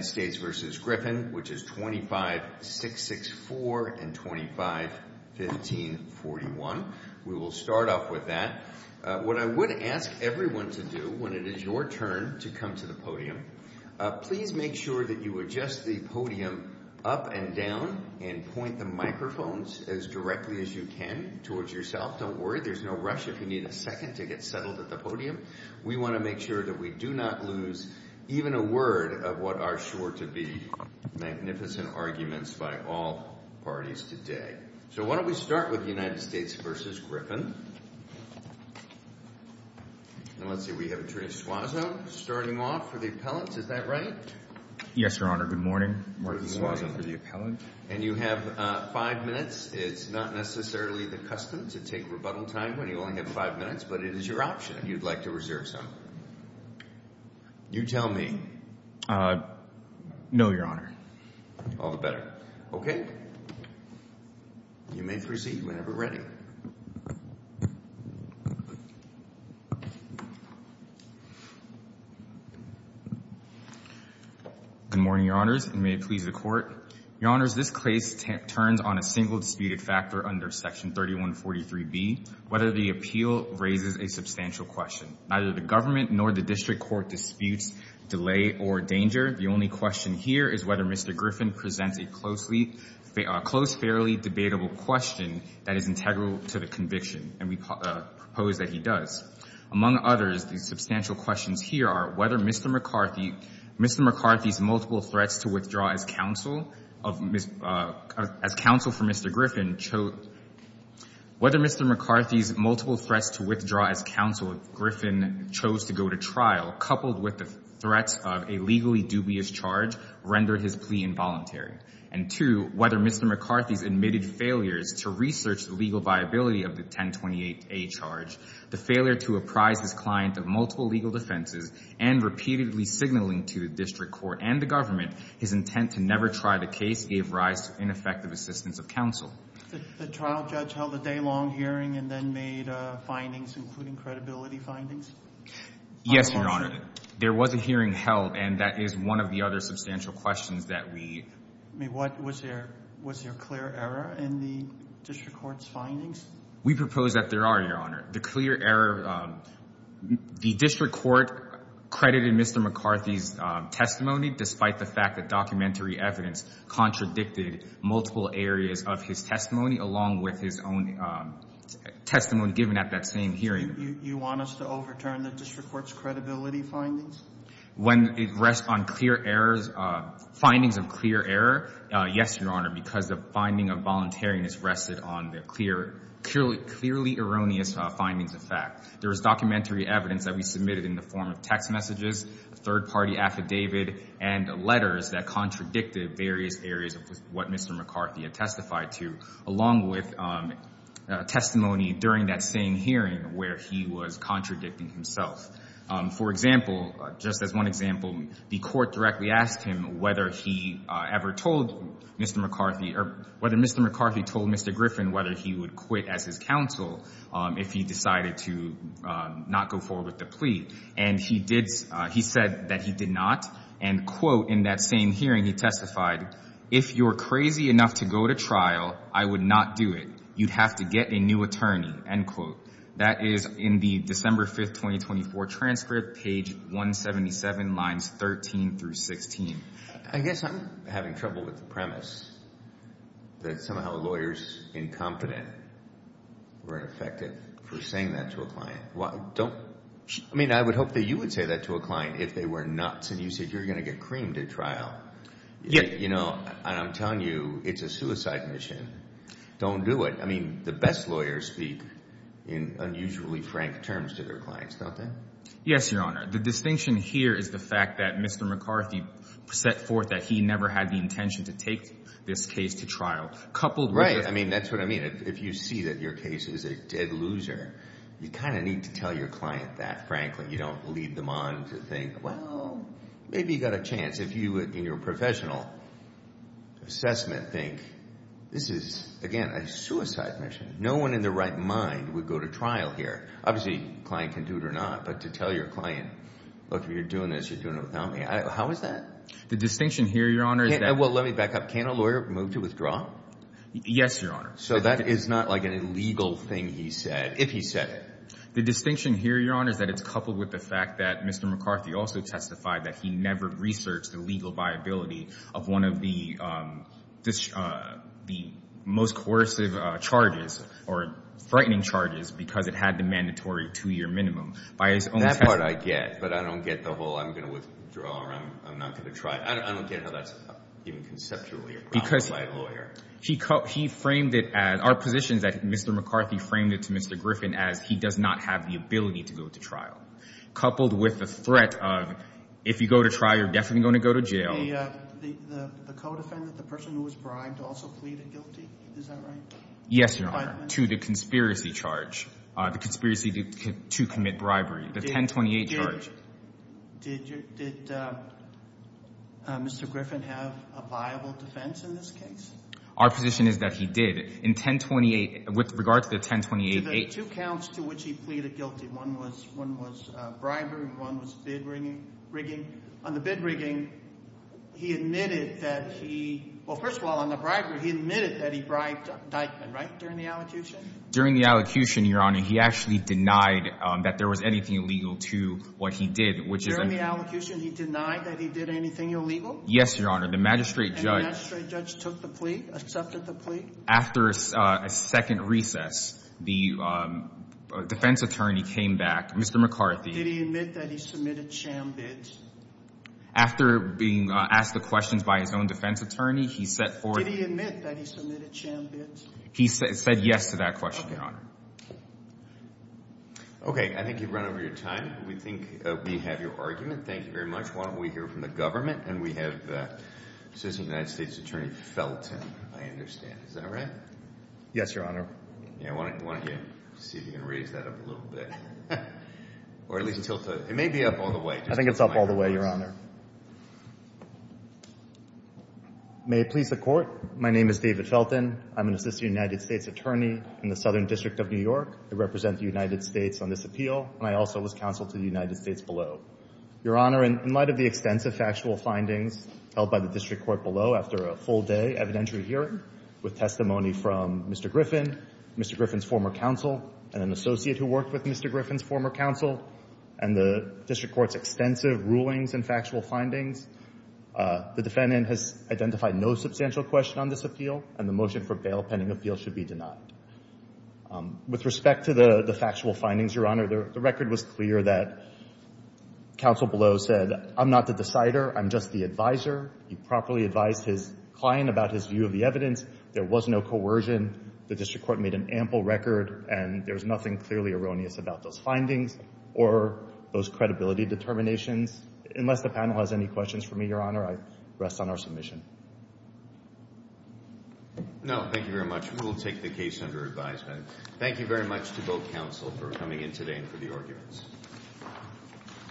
25664 and 251541. We will start off with that. What I would ask everyone to do when it is your turn to come to the podium, please make sure that you adjust the podium up and down and point the microphones as directly as you can towards yourself. Don't worry, there's no rush if you need a second to get settled at the podium. We want to make sure that we have a good discussion. We want to make sure to be magnificent arguments by all parties today. So why don't we start with the United States v. Griffin. And let's see, we have Attorney Suazo starting off for the appellants. Is that right? Yes, Your Honor. Good morning. Mark Suazo for the appellant. And you have five minutes. It's not necessarily the custom to take rebuttal time when you only have five minutes, but it is your option if you'd like to reserve some. You tell me. No, Your Honor. All the better. Okay. You may proceed whenever ready. Good morning, Your Honors, and may it please the Court. Your Honors, this case turns on a single disputed factor under Section 3143B, whether the appeal raises a substantial question. Neither the government nor the district court disputes delay or danger. The only question here is whether Mr. Griffin presents a close, fairly debatable question that is integral to the conviction, and we propose that he does. Among others, the substantial questions here are whether Mr. McCarthy's multiple threats to withdraw as counsel for Mr. Griffin chose to go to trial, coupled with the threats of a legally dubious charge, rendered his plea involuntary. And two, whether Mr. McCarthy's admitted failures to research the legal viability of the 1028A charge, the failure to apprise his client of multiple legal defenses, and repeatedly signaling to the district court and the government his intent to never try the case gave rise to ineffective assistance of counsel. The trial judge held a day-long hearing and then made findings, including credibility findings? Yes, Your Honor. There was a hearing held, and that is one of the other substantial questions that we... Was there clear error in the district court's findings? We propose that there are, Your Honor. The clear error... The district court credited Mr. McCarthy's testimony, despite the fact that documentary evidence contradicted multiple areas of his testimony, along with his own testimony given at that same hearing. You want us to overturn the district court's credibility findings? When it rests on clear errors... Findings of clear error, yes, Your Honor, because the finding of voluntariness rested on the clearly erroneous findings of fact. There was documentary evidence that we submitted in the form of text messages, third-party affidavit, and letters that contradicted various areas of what Mr. McCarthy had testified to, along with testimony during that same hearing where he was contradicting himself. For example, just as one example, the court directly asked him whether he ever told Mr. McCarthy... Or whether Mr. McCarthy told Mr. Griffin whether he would quit as his counsel if he decided to not go forward with the plea. And he did... He said that he did not. And, quote, in that same hearing, he testified, If you're crazy enough to go to trial, I would not do it. You'd have to get a new attorney, end quote. That is in the December 5, 2024 transcript, page 177, lines 13 through 16. I guess I'm having trouble with the premise that somehow lawyers incompetent were ineffective for saying that to a client. I mean, I would hope that you would say that to a client if they were nuts and you said, You're going to get creamed at trial. And I'm telling you, it's a suicide mission. Don't do it. I mean, the best lawyers speak in unusually frank terms to their clients, don't they? Yes, Your Honor. The distinction here is the fact that Mr. McCarthy set forth that he never had the intention to take this case to trial. Coupled with... Right. I mean, that's what I mean. If you see that your case is a dead loser, you kind of need to tell your client that, frankly. You don't lead them on to think, Well, maybe you got a chance. If you, in your professional assessment, think, This is, again, a suicide mission. No one in their right mind would go to trial here. Obviously, a client can do it or not, but to tell your client, Look, if you're doing this, you're doing it without me. How is that? The distinction here, Your Honor, is that... Well, let me back up. Can't a lawyer move to withdraw? Yes, Your Honor. So that is not like an illegal thing he said, if he said it. The distinction here, Your Honor, is that it's coupled with the fact that Mr. McCarthy also testified that he never researched the legal viability of one of the most coercive charges, or frightening charges, because it had the mandatory two-year minimum. That's what I get, but I don't get the whole, I'm going to withdraw or I'm not going to try. I don't get how that's even conceptually grounded by a lawyer. He framed it as... Our position is that Mr. McCarthy framed it to Mr. Griffin as he does not have the ability to go to trial, coupled with the threat of, If you go to trial, you're definitely going to go to jail. The co-defendant, the person who was bribed, also pleaded guilty. Is that right? Yes, Your Honor, to the conspiracy charge, the conspiracy to commit bribery, the 1028 charge. Did Mr. Griffin have a viable defense in this case? Our position is that he did. In 1028, with regard to the 1028... There were two counts to which he pleaded guilty. One was bribery, one was bid rigging. On the bid rigging, he admitted that he, well, first of all, on the bribery, he admitted that he bribed Dyckman, right, during the allocution? During the allocution, Your Honor, he actually denied that there was anything illegal to what he did, which is... During the allocution, he denied that he did anything illegal? Yes, Your Honor. The magistrate judge... And the magistrate judge took the plea, accepted the plea? After a second recess, the defense attorney came back, Mr. McCarthy. Did he admit that he submitted sham bids? After being asked the questions by his own defense attorney, he set forth... Did he admit that he submitted sham bids? He said yes to that question, Your Honor. Okay. I think you've run over your time. We think we have your argument. Thank you very much. Why don't we hear from the government, and we have Assistant United States Attorney Felton, I understand. Is that right? Yes, Your Honor. Why don't you see if you can raise that up a little bit, or at least tilt it. It may be up all the way. I think it's up all the way, Your Honor. May it please the Court, my name is David Felton. I'm an Assistant United States Attorney in the Southern District of New York. I represent the United States on this appeal, and I also was counsel to the United States below. Your Honor, in light of the extensive factual findings held by the District Court below after a full-day evidentiary hearing with testimony from Mr. Griffin, Mr. Griffin's former counsel, and an associate who worked with Mr. Griffin's former counsel, and the District Court's extensive rulings and factual evidence, the defendant has identified no substantial question on this appeal, and the motion for bail pending appeal should be denied. With respect to the factual findings, Your Honor, the record was clear that counsel below said, I'm not the decider, I'm just the advisor. He properly advised his client about his view of the evidence. There was no coercion. The District Court made an ample record, and there's nothing clearly erroneous about those findings or those credibility determinations, unless the panel has any questions for me, Your Honor. I rest on our submission. No, thank you very much. We will take the case under advisement. Thank you very much to both counsel for coming in today and for the arguments.